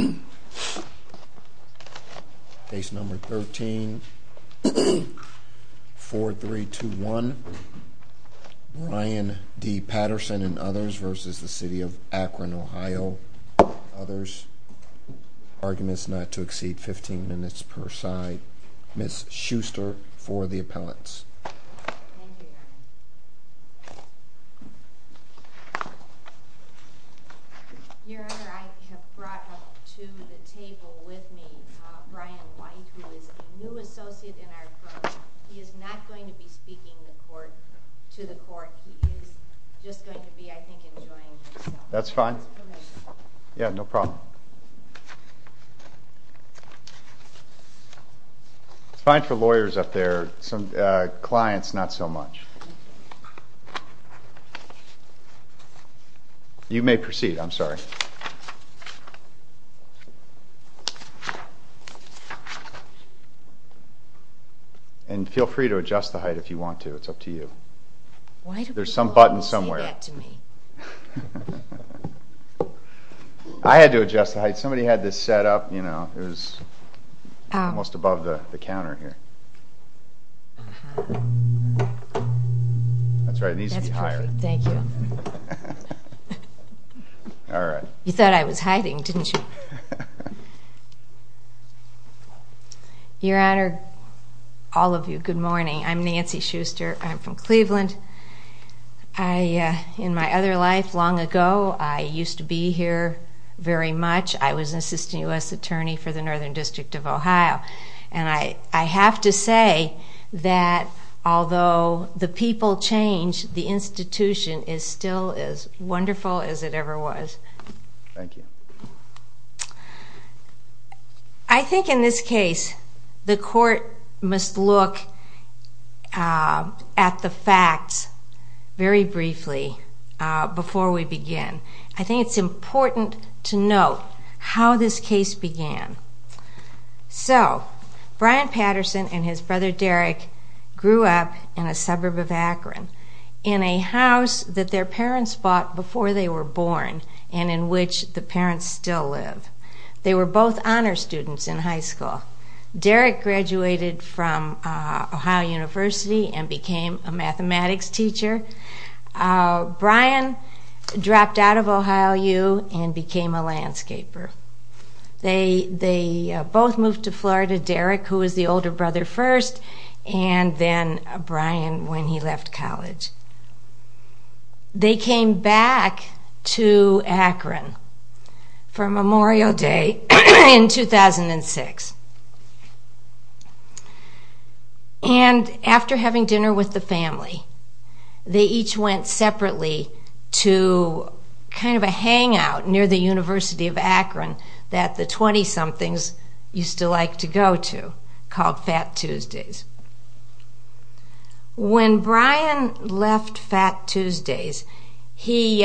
Ohio. Case number 13-4321. Ryan D. Patterson and others v. City of Akron Ohio. Arguments not to exceed 15 minutes per side. Ms. Schuster for the appellants. Thank you, Your Honor. Your Honor, I have brought up to the table with me Brian White, who is a new associate in our firm. He is not going to be speaking to the court. He is just going to be, I think, enjoying himself. That's fine. Yeah, no problem. It's fine for lawyers up there, clients not so much. You may proceed. I'm sorry. And feel free to adjust the height if you want to. It's up to you. There's some button somewhere. I had to adjust the height. Somebody had this set up. It was almost above the counter here. That's right. It needs to be higher. You thought I was hiding, didn't you? Your Honor, all of you, good morning. I'm Nancy Schuster. I'm from Cleveland. In my other life, long ago, I used to be here very much. I was an assistant U.S. attorney for the Northern District of Ohio. I have to say that although the people change, the institution is still as wonderful as it ever was. Thank you. I think in this case, the court must look at the facts very briefly before we begin. I think it's important to note how this case began. Brian Patterson and his brother Derek grew up in a suburb of Akron in a house that their parents bought before they were born and in which the parents still live. They were both honor students in high school. Derek graduated from Ohio University and became a mathematics teacher. Brian dropped out of Ohio U and became a landscaper. They both moved to Florida. Derek, who was the older brother first, and then Brian when he left college. They came back to Akron for Memorial Day in 2006. After having dinner with the family, they each went separately to a hangout near the University of Akron that the 20-somethings used to like to go to called Fat Tuesdays. When Brian left Fat Tuesdays, he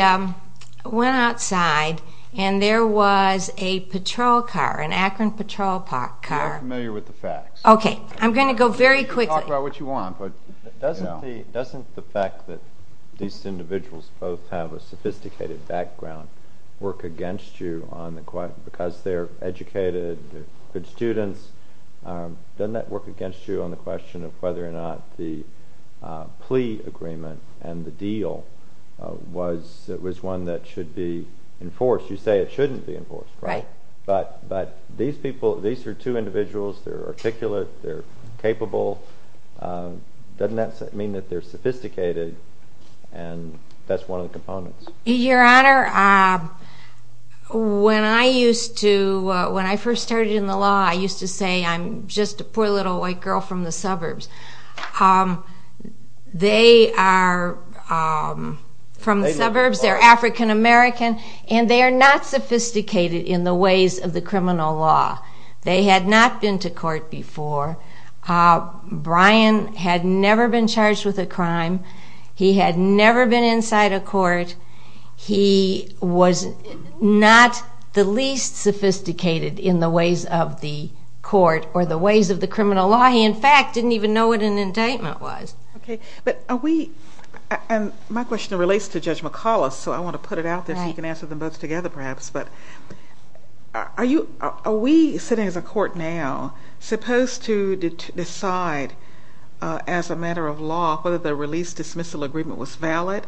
went outside and there was a patrol car, an Akron patrol car. You're familiar with the facts. Okay, I'm going to go very quickly. Doesn't the fact that these individuals both have a sophisticated background work against you because they're educated, good students? Doesn't that work against you on the question of whether or not the plea agreement and the deal was one that should be enforced? You say it shouldn't be enforced, right? But these people, these are two individuals. They're articulate. They're capable. Doesn't that mean that they're sophisticated? That's one of the components. Your Honor, when I first started in the law, I used to say I'm just a poor little white girl from the suburbs. They are from the suburbs. They're African American, and they are not sophisticated in the criminal law. They had not been to court before. Brian had never been charged with a crime. He had never been inside a court. He was not the least sophisticated in the ways of the court or the ways of the criminal law. He, in fact, didn't even know what an indictment was. My question relates to Judge McCullough, so I want to put it out there so you can answer them both together perhaps. Are we, sitting as a court now, supposed to decide as a matter of law whether the release-dismissal agreement was valid?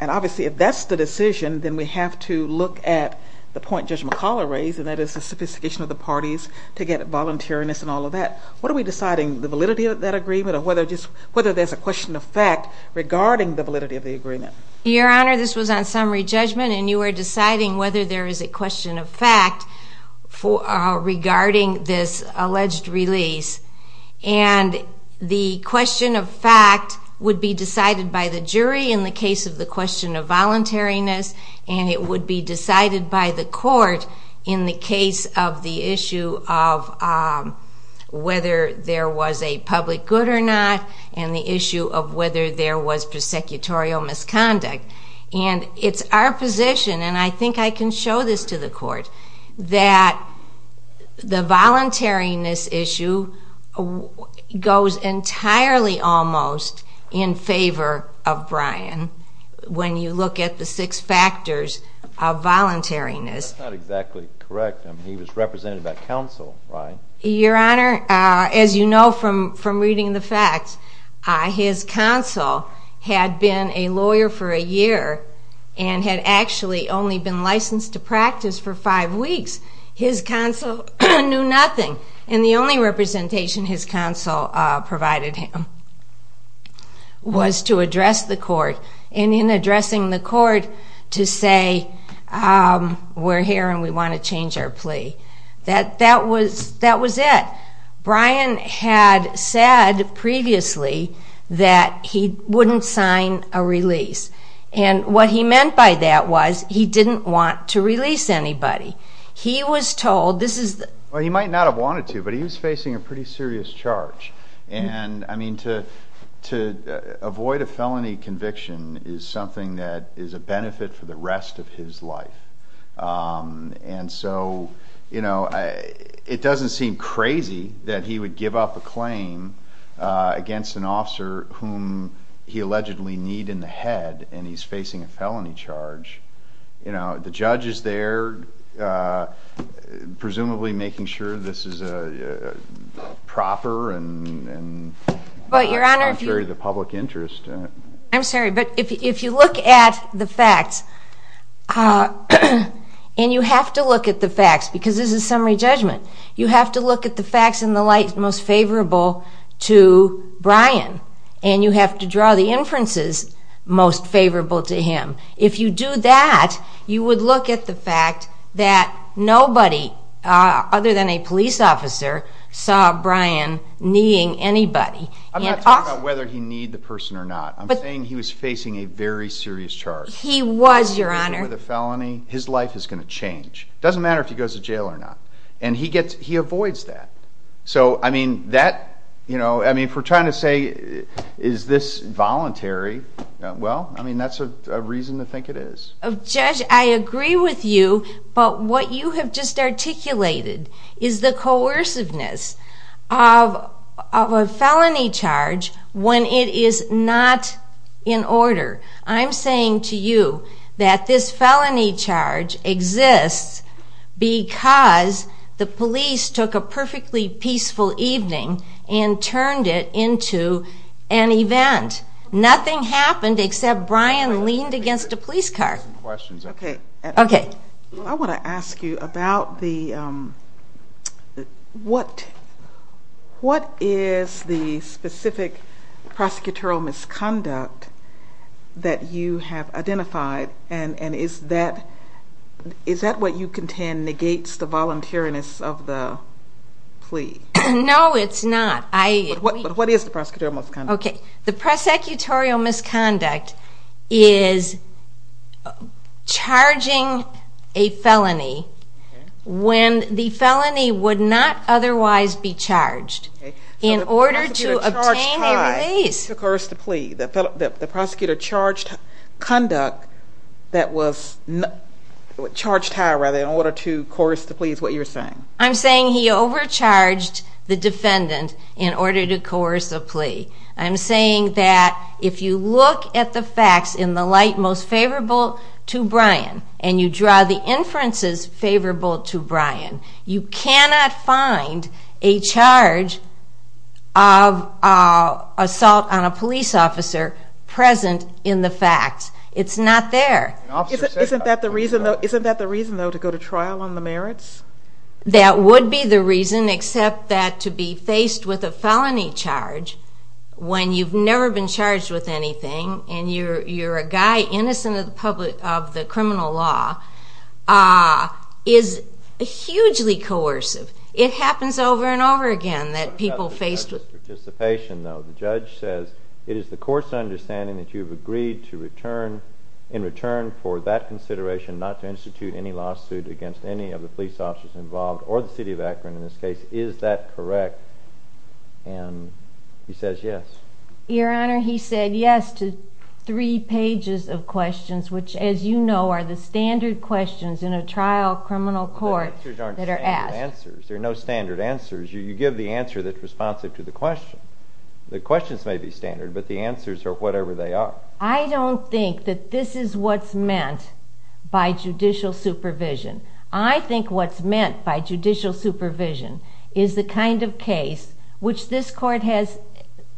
Obviously, if that's the decision, then we have to look at the point Judge McCullough raised, and that is the sophistication of the parties to get voluntariness and all of that. What are we deciding? The validity of that agreement or whether there's a question of fact regarding the validity of the agreement? Your Honor, this was on summary judgment and you are deciding whether there is a question of fact regarding this alleged release. The question of fact would be decided by the jury in the case of the question of voluntariness, and it would be decided by the court in the case of the issue of whether there was a public good or not and the issue of whether there was prosecutorial misconduct. It's our position, and I think I can show this to the court, that the voluntariness issue goes entirely almost in favor of Bryan when you look at the six factors of voluntariness. That's not exactly correct. He was represented by counsel, right? Your Honor, as you know from reading the facts, his counsel had been a lawyer for a year and had actually only been licensed to practice for five weeks. His counsel knew nothing, and the only representation his counsel provided him was to address the court and in addressing the court to say we're here and we want to change our plea. That was it. Bryan had said previously that he wouldn't sign a release, and what he meant by that was he didn't want to release anybody. He was told... Well, he might not have wanted to, but he was facing a pretty serious charge, and to avoid a felony conviction is something that is a benefit for the rest of his life. It doesn't seem crazy that he would give up a claim against an officer whom he allegedly kneed in the head and he's facing a felony charge. The judge is there presumably making sure this is proper and contrary to the public interest. I'm sorry, but if you look at the facts, and you have to look at the facts because this is a summary judgment. You have to look at the facts in the light most favorable to Bryan, and you have to draw the inferences most favorable to him. If you do that, you would look at the fact that nobody other than a police officer saw Bryan kneeing anybody. I'm not talking about whether he kneed the person or not. I'm saying he was facing a very serious charge. He was, Your Honor. His life is going to change. It doesn't matter if he goes to jail or not. He avoids that. If we're trying to say, is this voluntary? Well, that's a reason to think it is. Judge, I agree with you, but what you have just articulated is the coerciveness of a felony charge when it is not in order. I'm saying to you that this felony charge exists because the police took a perfectly peaceful evening and turned it into an event. Nothing happened except Bryan leaned against a police car. I want to ask you about what is the specific prosecutorial misconduct that you have identified, and is that what you contend negates the voluntariness of the plea? No, it's not. What is the prosecutorial misconduct? The prosecutorial misconduct is charging a felony when the felony would not otherwise be charged in order to obtain a release. The prosecutor charged conduct that was charged high, rather, in order to coerce the plea is what you're saying. I'm saying he overcharged the defendant in order to coerce a plea. I'm saying that if you look at the facts in the light most favorable to Bryan, and you draw the inferences favorable to Bryan, you cannot find a charge of assault on a police officer present in the facts. It's not there. Isn't that the reason, though, to go to trial on the merits? That would be the reason, except that to be faced with a felony charge when you've never been charged with anything and you're a guy innocent of the criminal law is hugely coercive. It happens over and over again that people faced with... In this participation, though, the judge says it is the court's understanding that you've agreed to return, in return for that consideration, not to institute any lawsuit against any of the police officers involved, or the city of Akron in this case. Is that correct? And he says yes. Your Honor, he said yes to three pages of questions, which, as you know, are the standard questions in a trial criminal court that are asked. The answers aren't standard answers. There are no standard answers. You give the answer that's responsive to the question. The questions may be standard, but the answers are whatever they are. I don't think that this is what's meant by judicial supervision. I think what's meant by judicial supervision is the kind of case which this Court has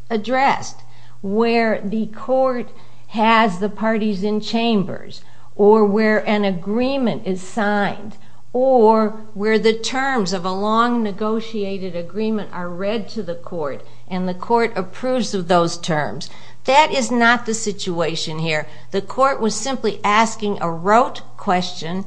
addressed, where the Court has the parties in chambers, or where an agreement is signed, or where the terms of the agreement are read to the Court, and the Court approves of those terms. That is not the situation here. The Court was simply asking a rote question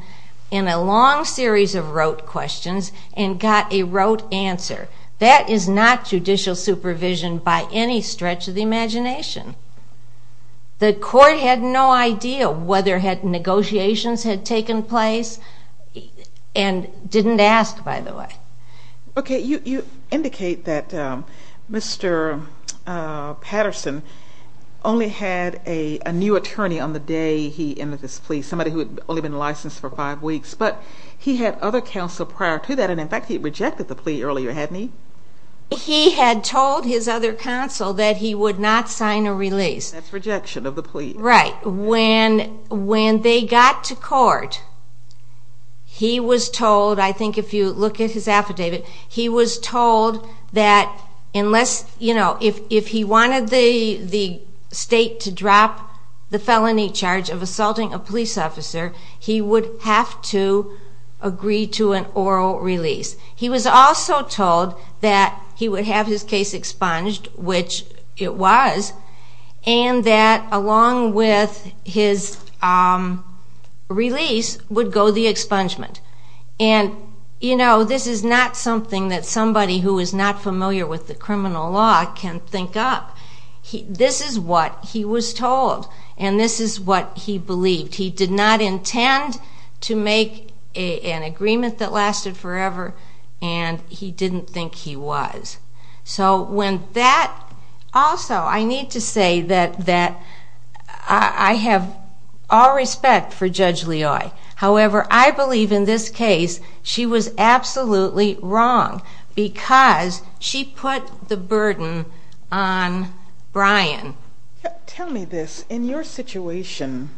in a long series of rote questions, and got a rote answer. That is not judicial supervision by any stretch of the imagination. The Court had no idea whether negotiations had taken place, and didn't ask, by the way. You indicate that Mr. Patterson only had a new attorney on the day he ended his plea, somebody who had only been licensed for five weeks, but he had other counsel prior to that, and in fact he rejected the plea earlier, hadn't he? He had told his other counsel that he would not sign a release. That's rejection of the plea. Right. When they got to court, he was told, I think if you look at his affidavit, he was told that if he wanted the state to drop the felony charge of assaulting a police officer, he would have to agree to an oral release. He was also told that he would have his case expunged, which it was, and that along with his release would go the expungement. This is not something that somebody who is not familiar with the criminal law can think up. This is what he was told, and this is what he believed. He did not intend to make an agreement that lasted forever, and he didn't think he was. Also, I need to say that I have all respect for Judge Leoy. However, I believe in this case she was absolutely wrong because she put the burden on Brian. Tell me this. In your situation,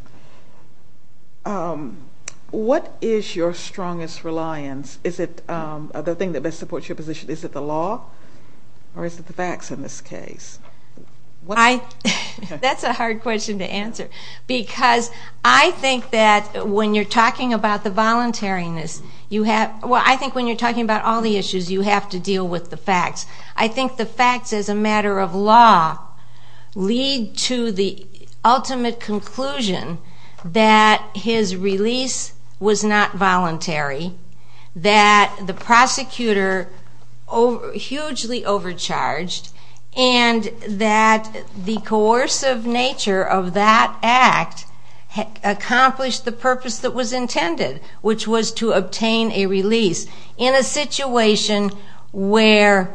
what is your strongest reliance? Is it the thing that best supports your position? Is it the law, or is it the facts in this case? That's a hard question to answer. I think that when you're talking about the voluntariness you have to deal with the facts. I think the facts as a matter of law lead to the ultimate conclusion that his release was not voluntary, that the prosecutor was hugely overcharged, and that the coercive nature of that act accomplished the purpose that was intended, which was to obtain a release. In a situation where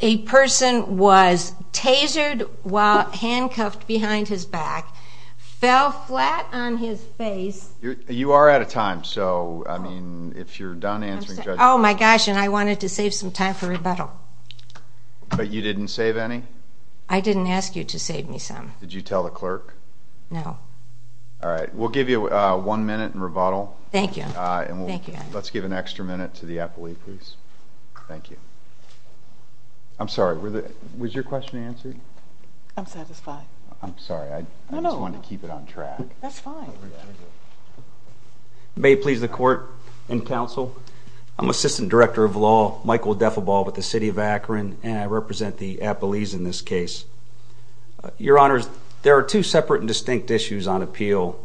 a person was tasered while handcuffed behind his back, fell flat on his face... You are out of time. If you're done answering... I wanted to save some time for rebuttal. But you didn't save any? I didn't ask you to save me some. Did you tell the clerk? No. We'll give you one minute in rebuttal. Was your question answered? I'm satisfied. I'm sorry, I just wanted to keep it on track. May it please the Court and Counsel, I'm Assistant Director of Law, Michael Deffelbaugh with the City of Akron, and I represent the Appalachians in this case. Your Honors, there are two separate and distinct issues on appeal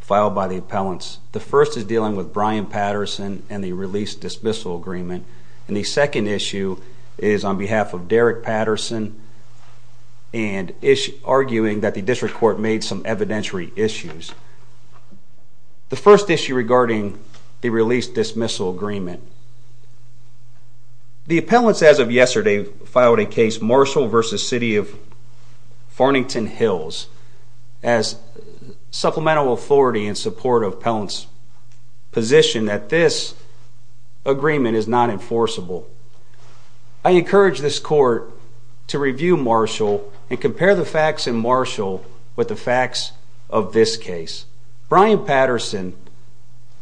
filed by the appellants. The first is dealing with Brian Patterson and the release-dismissal agreement, and the second issue is on behalf of Derek Patterson and arguing that the District Court made some evidentiary issues. The first issue regarding the release-dismissal agreement. The appellants, as of yesterday, filed a case, Marshall v. City of Farnington Hills, as supplemental authority in support of the appellant's position that this agreement is not enforceable. I encourage this Court to review Marshall and compare the facts in Marshall with the facts of this case. Brian Patterson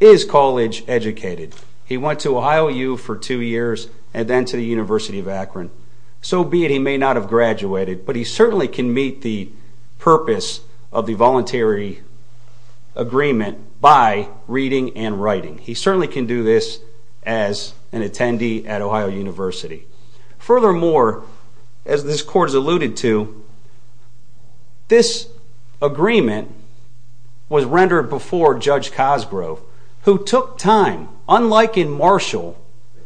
is college-educated. He went to Ohio U for two years and then to the University of Akron. So be it, he may not have graduated, but he certainly can meet the purpose of the voluntary agreement by reading and writing. He certainly can do this as an attendee at Ohio University. Furthermore, as this Court has alluded to, this agreement was rendered before Judge Cosgrove, who took time, unlike in Marshall.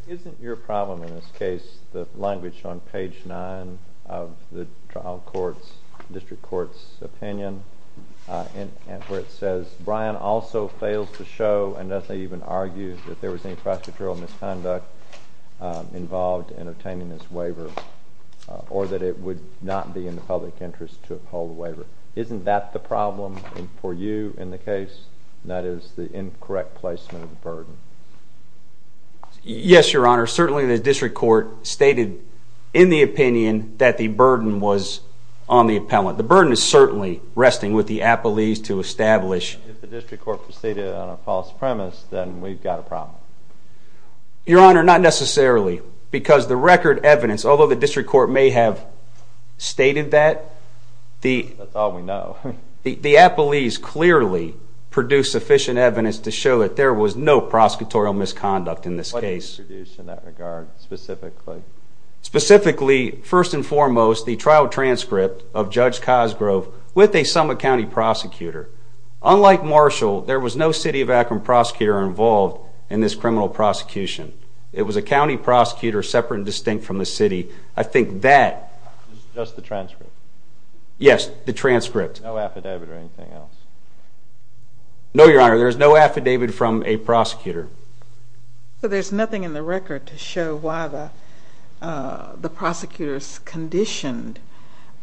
Isn't your problem in this case the language on page 9 of the trial court's, District Court's opinion, where it says, Brian also fails to show and doesn't even argue that there was any prosecutorial misconduct involved in obtaining this waiver or that it would not be in the public interest to uphold the waiver? Isn't that the problem for you in the case? That is the incorrect placement of the burden. Yes, Your Honor. Certainly the District Court stated in the opinion that the burden was on the appellant. The burden is certainly resting with the appellees to establish. If the District Court stated it on a false premise, then we've got a problem. Your Honor, not necessarily, because the record evidence, although the District Court may have stated that, the appellees clearly produced sufficient evidence to show that there was no prosecutorial misconduct in this case. Specifically, first and foremost, the trial transcript of Judge Cosgrove with a Summit County prosecutor. Unlike Marshall, there was no city of Akron prosecutor involved in this criminal prosecution. It was a county prosecutor separate and distinct from the city. I think that... Just the transcript? Yes, the transcript. No affidavit or anything else? No, Your Honor. There's no affidavit from a prosecutor. So there's nothing in the record to show why the prosecutors conditioned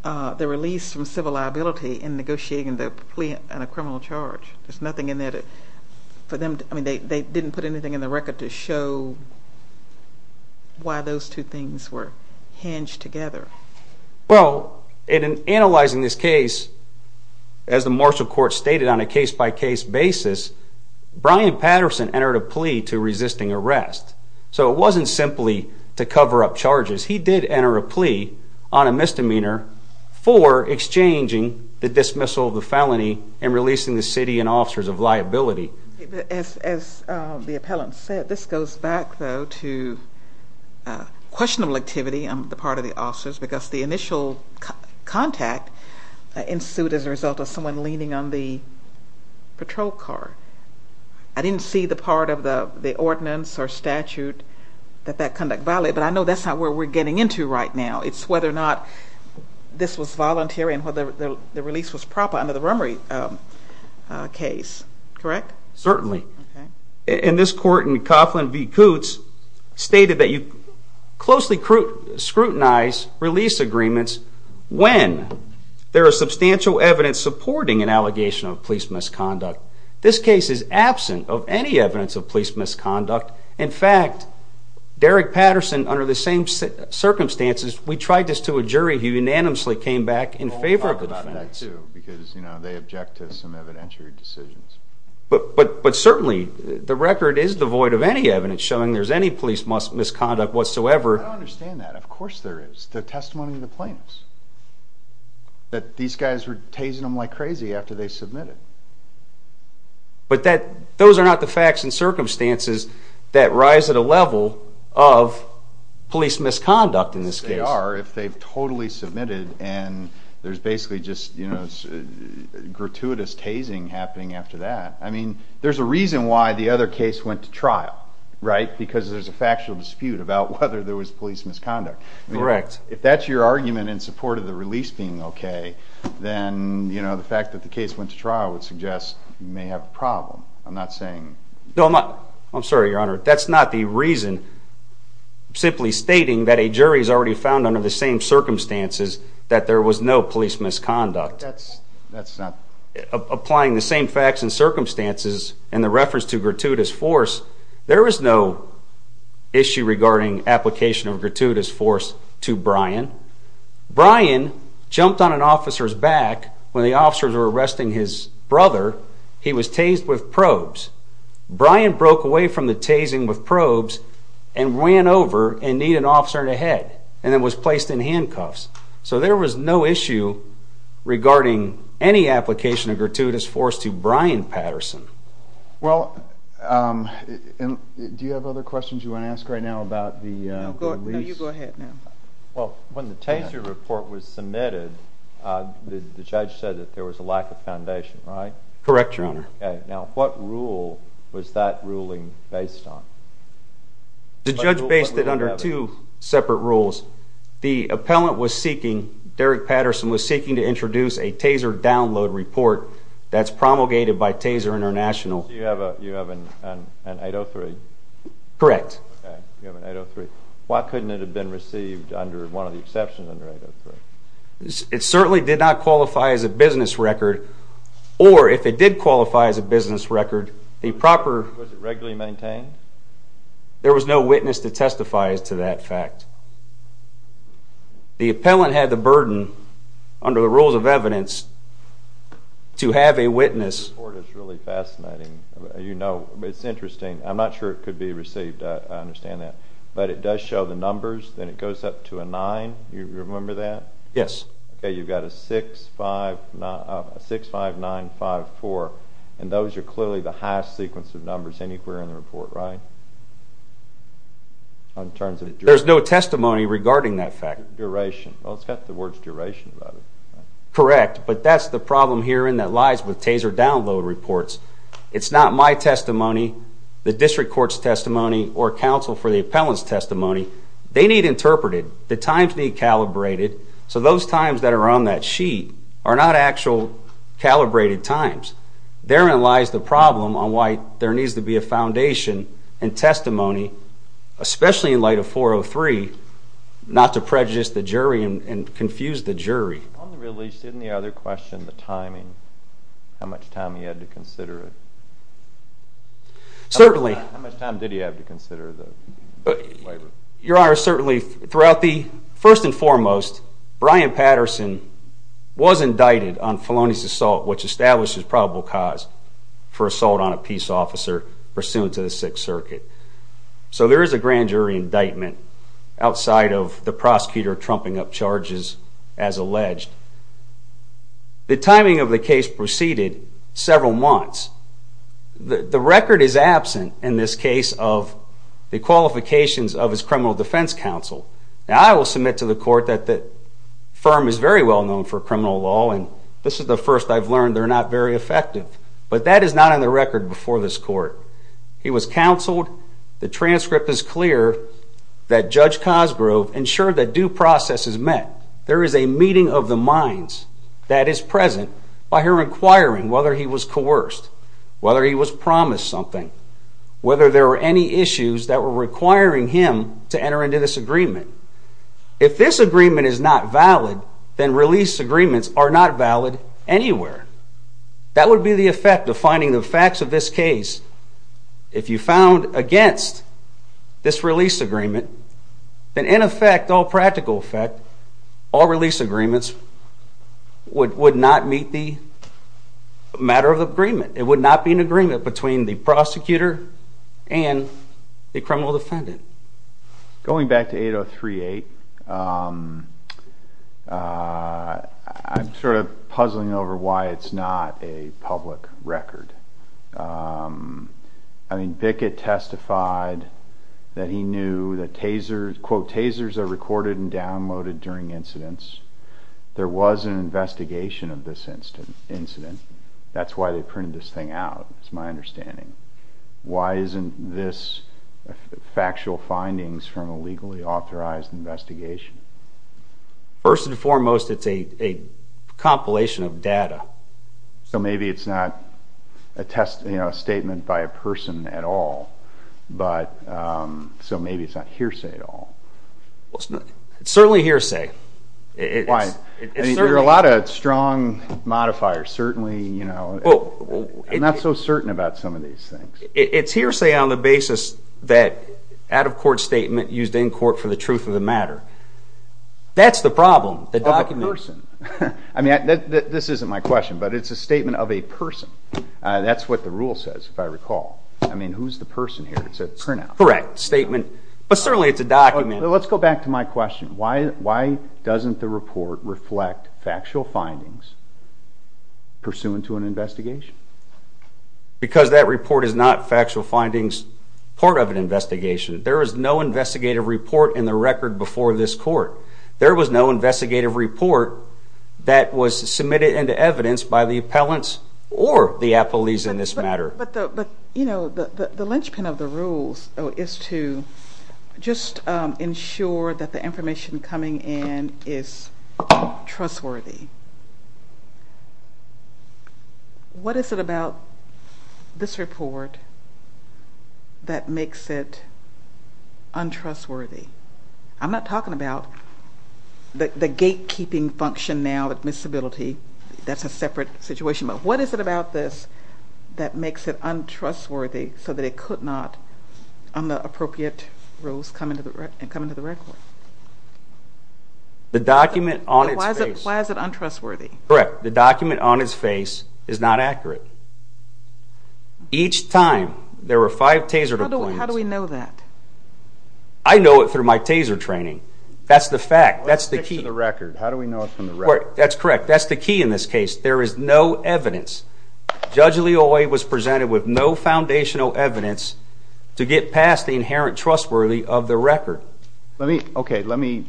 the release from civil liability in negotiating the plea on a criminal charge. There's nothing in there for them... I mean, they didn't put anything in the record to show why those two things were hinged together. Well, in analyzing this case, as the Marshall Court stated on a case-by-case basis, Brian Patterson entered a plea to resisting arrest. So it wasn't simply to cover up charges. He did enter a plea on a misdemeanor for exchanging the dismissal of the felony and releasing the city and officers of liability. As the appellant said, this goes back, though, to questionable activity on the part of the officers because the initial contact ensued as a result of someone leaning on the patrol car. I didn't see the part of the ordinance or statute that that conduct violated, but I know that's not where we're getting into right now. It's whether or not this was voluntary and whether the release was proper under the Rummery case, correct? Certainly. And this court in Coughlin v. Coots stated that you closely scrutinize release agreements when there is substantial evidence supporting an allegation of police misconduct. This case is absent of any evidence of police misconduct. In fact, Derek Patterson under the same circumstances, we tried this to a jury who unanimously came back in favor of the defense. I'll talk about that, too, because they object to some evidentiary decisions. But certainly, the record is devoid of any evidence showing there's any police misconduct whatsoever. I don't understand that. Of course there is. The testimony of the plaintiffs. These guys were tasing them like crazy after they submitted. But those are not the facts and circumstances that rise to the level of police misconduct in this case. They are if they've totally submitted and there's basically just gratuitous tasing happening after that. I mean, there's a reason why the other case went to trial, right? Because there's a factual dispute about whether there was police misconduct. If that's your argument in support of the release being okay, then the fact that the case went to trial would suggest you may have a problem. I'm not saying... I'm sorry, Your Honor. That's not the reason. I'm simply stating that a jury has already found under the same circumstances that there was no police misconduct. That's not... Applying the same facts and circumstances and the reference to gratuitous force, there is no issue regarding application of gratuitous force to Brian. Brian jumped on an officer's back when the officers were arresting his brother. He was tased with probes. Brian broke away from the tasing with probes and ran over and kneed an officer in the head and then was placed in handcuffs. So there was no issue regarding any application of gratuitous force to Brian Patterson. Well, do you have other questions you want to ask right now about the release? No, you go ahead now. Well, when the taser report was submitted, the judge said that there was a lack of evidence. Now, what rule was that ruling based on? The judge based it under two separate rules. The appellant was seeking, Derek Patterson was seeking to introduce a taser download report that's promulgated by Taser International. You have an 803? Correct. Why couldn't it have been received under one of the exceptions under 803? It certainly did not qualify as a business record or if it did qualify as a business record, the proper Was it regularly maintained? There was no witness to testify to that fact. The appellant had the burden under the rules of evidence to have a witness The report is really fascinating. It's interesting. I'm not sure it could be received. I understand that. But it does show the numbers and it goes up to a nine. Do you remember that? Yes. You've got a six, five, nine, five, four, and those are clearly the highest sequence of numbers anywhere in the report, right? There's no testimony regarding that fact. Duration. Well, it's got the words duration about it. Correct, but that's the problem here and that lies with taser download reports. It's not my testimony, the district court's testimony, or counsel for the appellant's testimony. They need interpreted. The times need calibrated. So those times that are on that sheet are not actual calibrated times. Therein lies the problem on why there needs to be a foundation and testimony, especially in light of 403, not to prejudice the jury and confuse the jury. On the release, didn't the other question, the timing, how much time he had to consider it? Certainly. How much time did he have to consider the waiver? Your Honor, certainly throughout the, first and foremost, Bryan Patterson was indicted on felonious assault, which establishes probable cause for assault on a peace officer pursuant to the Sixth Circuit. So there is a grand jury indictment outside of the prosecutor trumping up charges as alleged. The timing of the case proceeded several months. The record is absent in this case of the qualifications of his criminal defense counsel. Now, I will submit to the court that the firm is very well known for criminal law, and this is the first I've learned they're not very effective. But that is not on the record before this court. He was counseled. The transcript is clear that Judge Cosgrove ensured that due process is met. There is a meeting of the minds that is present by her inquiring whether he was coerced, whether he was promised something, whether there were any issues that were requiring him to enter into this agreement. If this agreement is not valid, then release agreements are not valid anywhere. That would be the effect of finding the facts of this case. If you found against this release agreement, then in effect, all practical effect, all release agreements would not meet the matter of agreement. It would not be an agreement between the prosecutor and the criminal defendant. Going back to 8038, I'm sort of puzzling over why it's not a public record. I mean, Bickett testified that he knew that, quote, tasers are recorded and downloaded during incidents. There was an investigation of this incident. That's why they printed this thing out, is my understanding. Why isn't this factual findings from a legally authorized investigation? First and foremost, it's a compilation of data. So maybe it's not a statement by a person at all. So maybe it's not hearsay at all. It's certainly hearsay. Why? There are a lot of strong modifiers. I'm not so certain about some of these things. It's hearsay on the basis that out-of-court statement used in court for the truth of the matter. That's the problem. Of a person. This isn't my question, but it's a statement of a person. That's what the rule says, if I recall. I mean, who's the person here? It's a printout. Correct. But certainly it's a document. Let's go back to my question. Why doesn't the report reflect factual findings pursuant to an investigation? Because that report is not factual findings part of an investigation. There is no investigative report in the record before this court. There was no investigative report that was submitted into evidence by the appellants or the appellees in this matter. But the linchpin of the rules is to just ensure that the information coming in is trustworthy. What is it about this report that makes it untrustworthy? I'm not talking about the gatekeeping function now, the admissibility. That's a separate situation, but what is it about this that makes it untrustworthy so that it could not, on the appropriate rules, come into the record? The document on its face. Why is it untrustworthy? Correct. The document on its face is not accurate. Each time there were five taser deployments. How do we know that? I know it through my taser training. That's the fact. That's the key. How do we know it from the record? That's correct. That's the key in this case. There is no evidence. Judge Leoy was presented with no foundational evidence to get past the inherent untrustworthy of the record. Let me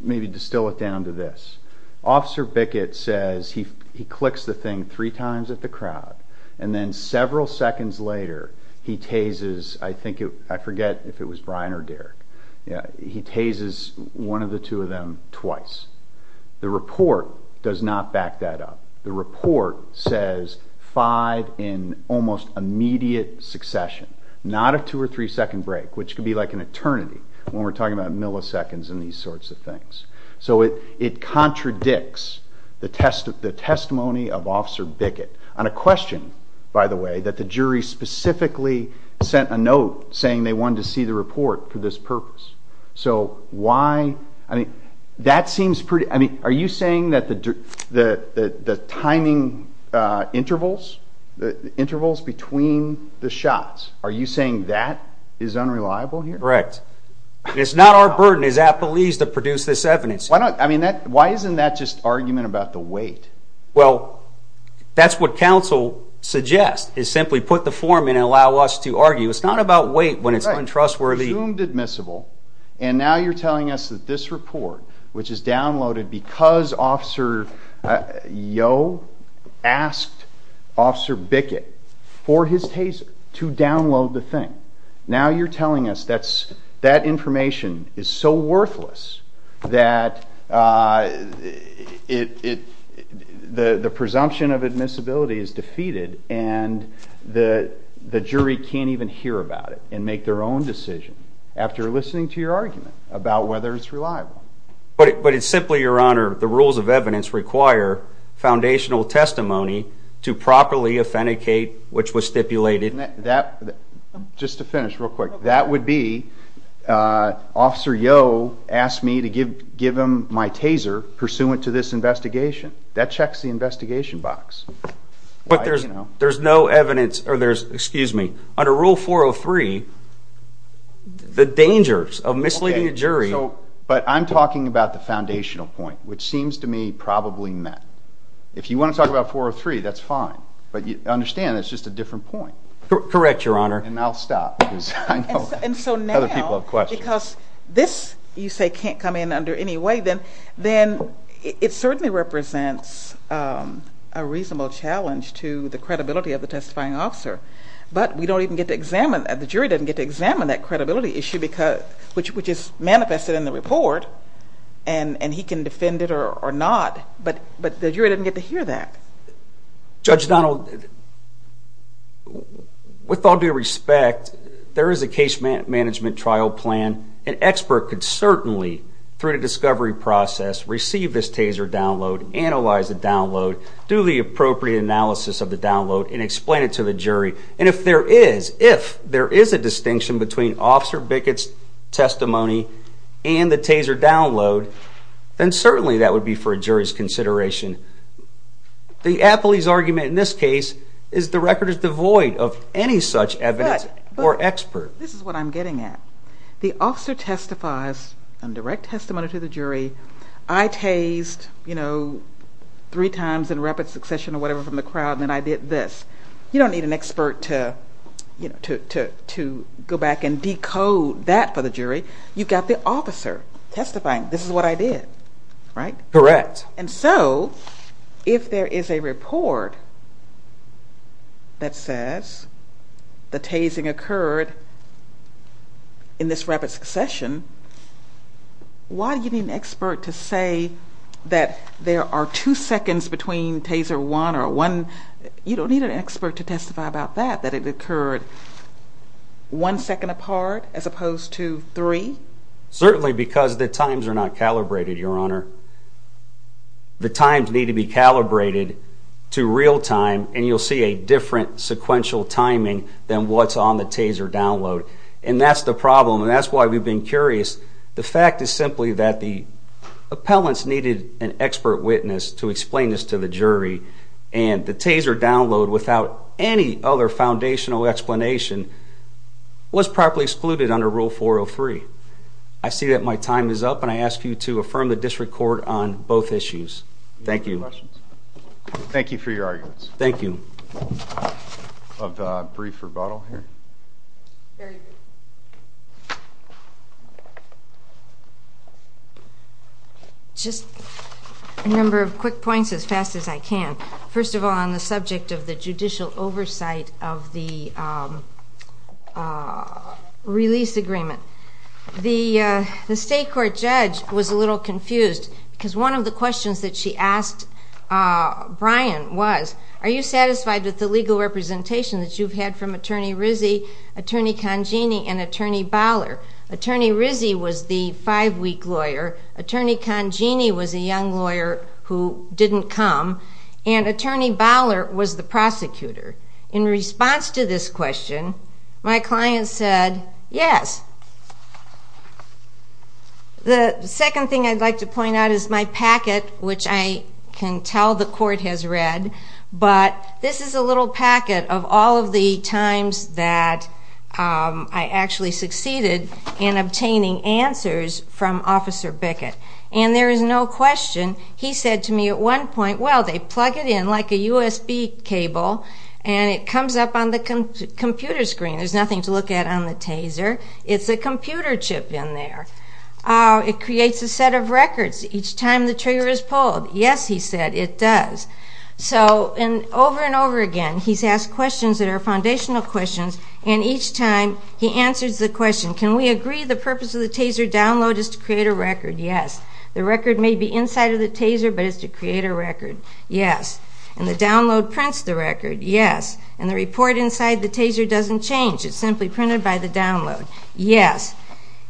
maybe distill it down to this. Officer Bickett says he clicks the thing three times at the crowd and then several seconds later he tases, I forget if it was Brian or Derek, he tases one of the two of them twice. The report does not back that up. The report says five in almost immediate succession. Not a two or three second break, which could be like an eternity when we're talking about milliseconds and these sorts of things. It contradicts the testimony of Officer Bickett on a question by the way that the jury specifically sent a note saying they wanted to see the report for this purpose. Are you saying that the timing intervals between the shots, are you saying that is unreliable here? Correct. It's not our burden as appellees to produce this evidence. Why isn't that just argument about the weight? Well, that's what counsel suggests is simply put the form in and allow us to argue. It's not about weight when it's untrustworthy. Presumed admissible and now you're telling us that this report which is downloaded because Officer Yeo asked Officer Bickett for his taser to download the thing. Now you're telling us that information is so worthless that the presumption of admissibility is defeated and the jury can't even hear about it and make their own decision after listening to your argument about whether it's reliable. But it's simply, Your Honor, the rules of evidence require foundational testimony to properly authenticate which was stipulated. Just to finish real quick that would be Officer Yeo asked me to give him my taser pursuant to this investigation. That checks the investigation box. But there's no evidence excuse me, under Rule 403 the dangers of misleading a jury. But I'm talking about the foundational point which seems to me probably met. If you want to talk about 403 that's fine. But understand it's just a different point. Correct, Your Honor. And I'll stop because I know other people have questions. Because this you say can't come in under any way then it certainly represents a reasonable challenge to the credibility of the testifying officer. But we don't even get to examine, the jury doesn't get to examine that credibility issue which is manifested in the report and he can defend it or not. But the jury doesn't get to hear that. Judge Donald with all due respect, there is a case management trial plan. An expert could certainly, through the discovery process, receive this taser download, analyze the download, do the appropriate analysis of the download and explain it to the jury. And if there is, if there is a distinction between Officer Bickett's testimony and the taser download, then certainly that would be for a jury's consideration. The athlete's argument in this case is the record is devoid of any such evidence or expert. This is what I'm getting at. The officer testifies on direct testimony to the jury. I tased, you know three times in rapid succession or whatever from the crowd and then I did this. You don't need an expert to go back and decode that for the jury. You've got the officer testifying, this is what I did. Right? Correct. And so, if there is a report that says the tasing occurred in this rapid succession, why do you need an expert to say that there are two seconds between taser one or one you don't need an expert to testify about that, that it occurred one second apart as opposed to three? Certainly because the times are not calibrated, Your Honor. The times need to be calibrated to real time and you'll see a different sequential timing than what's on the taser download. And that's the problem and that's why we've been curious. The fact is simply that the appellants needed an expert witness to explain this to the jury and the taser download without any other foundational explanation was properly excluded under Rule 403. I see that my time is up and I ask you to affirm the District Court on both issues. Thank you. Thank you for your arguments. Thank you. A brief rebuttal here? Very briefly. Just a number of quick points as fast as I can. First of all on the subject of the judicial oversight of the release agreement. The State Court judge was a little confused because one of the questions that she asked Brian was are you satisfied with the legal representation that you've had from Attorney Rizzi, Attorney Congeni, and Attorney Baller? Attorney Rizzi was the five week lawyer. Attorney Congeni was a young lawyer who didn't come and Attorney Baller was the prosecutor. In response to this question my client said yes. The second thing I'd like to point out is my packet which I can tell the Court has read but this is a little packet of all of the times that I actually succeeded in obtaining answers from Officer Bickett. There is no question. He said to me at one point well they plug it in like a USB cable and it comes up on the computer screen. There's nothing to look at on the taser. It's a computer chip in there. It creates a set of records each time the trigger is pulled. Yes he said it does. Over and over again he's asked questions that are foundational questions and each time he answers the question can we agree the purpose of the taser download is to create a record. Yes. The record may be inside of the taser but it's to create a record. Yes. And the download prints the record. Yes. And the report inside the taser doesn't change. It's simply printed by the download. Yes.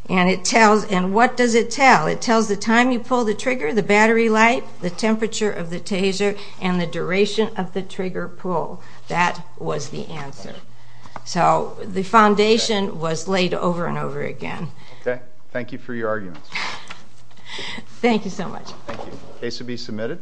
And what does it tell? It tells the time you pulled the trigger, the battery life, the temperature of the taser, and the duration of the trigger pull. That was the answer. So the foundation was laid over and over again. Okay. Thank you for your arguments. Thank you so much. Thank you. Case will be submitted.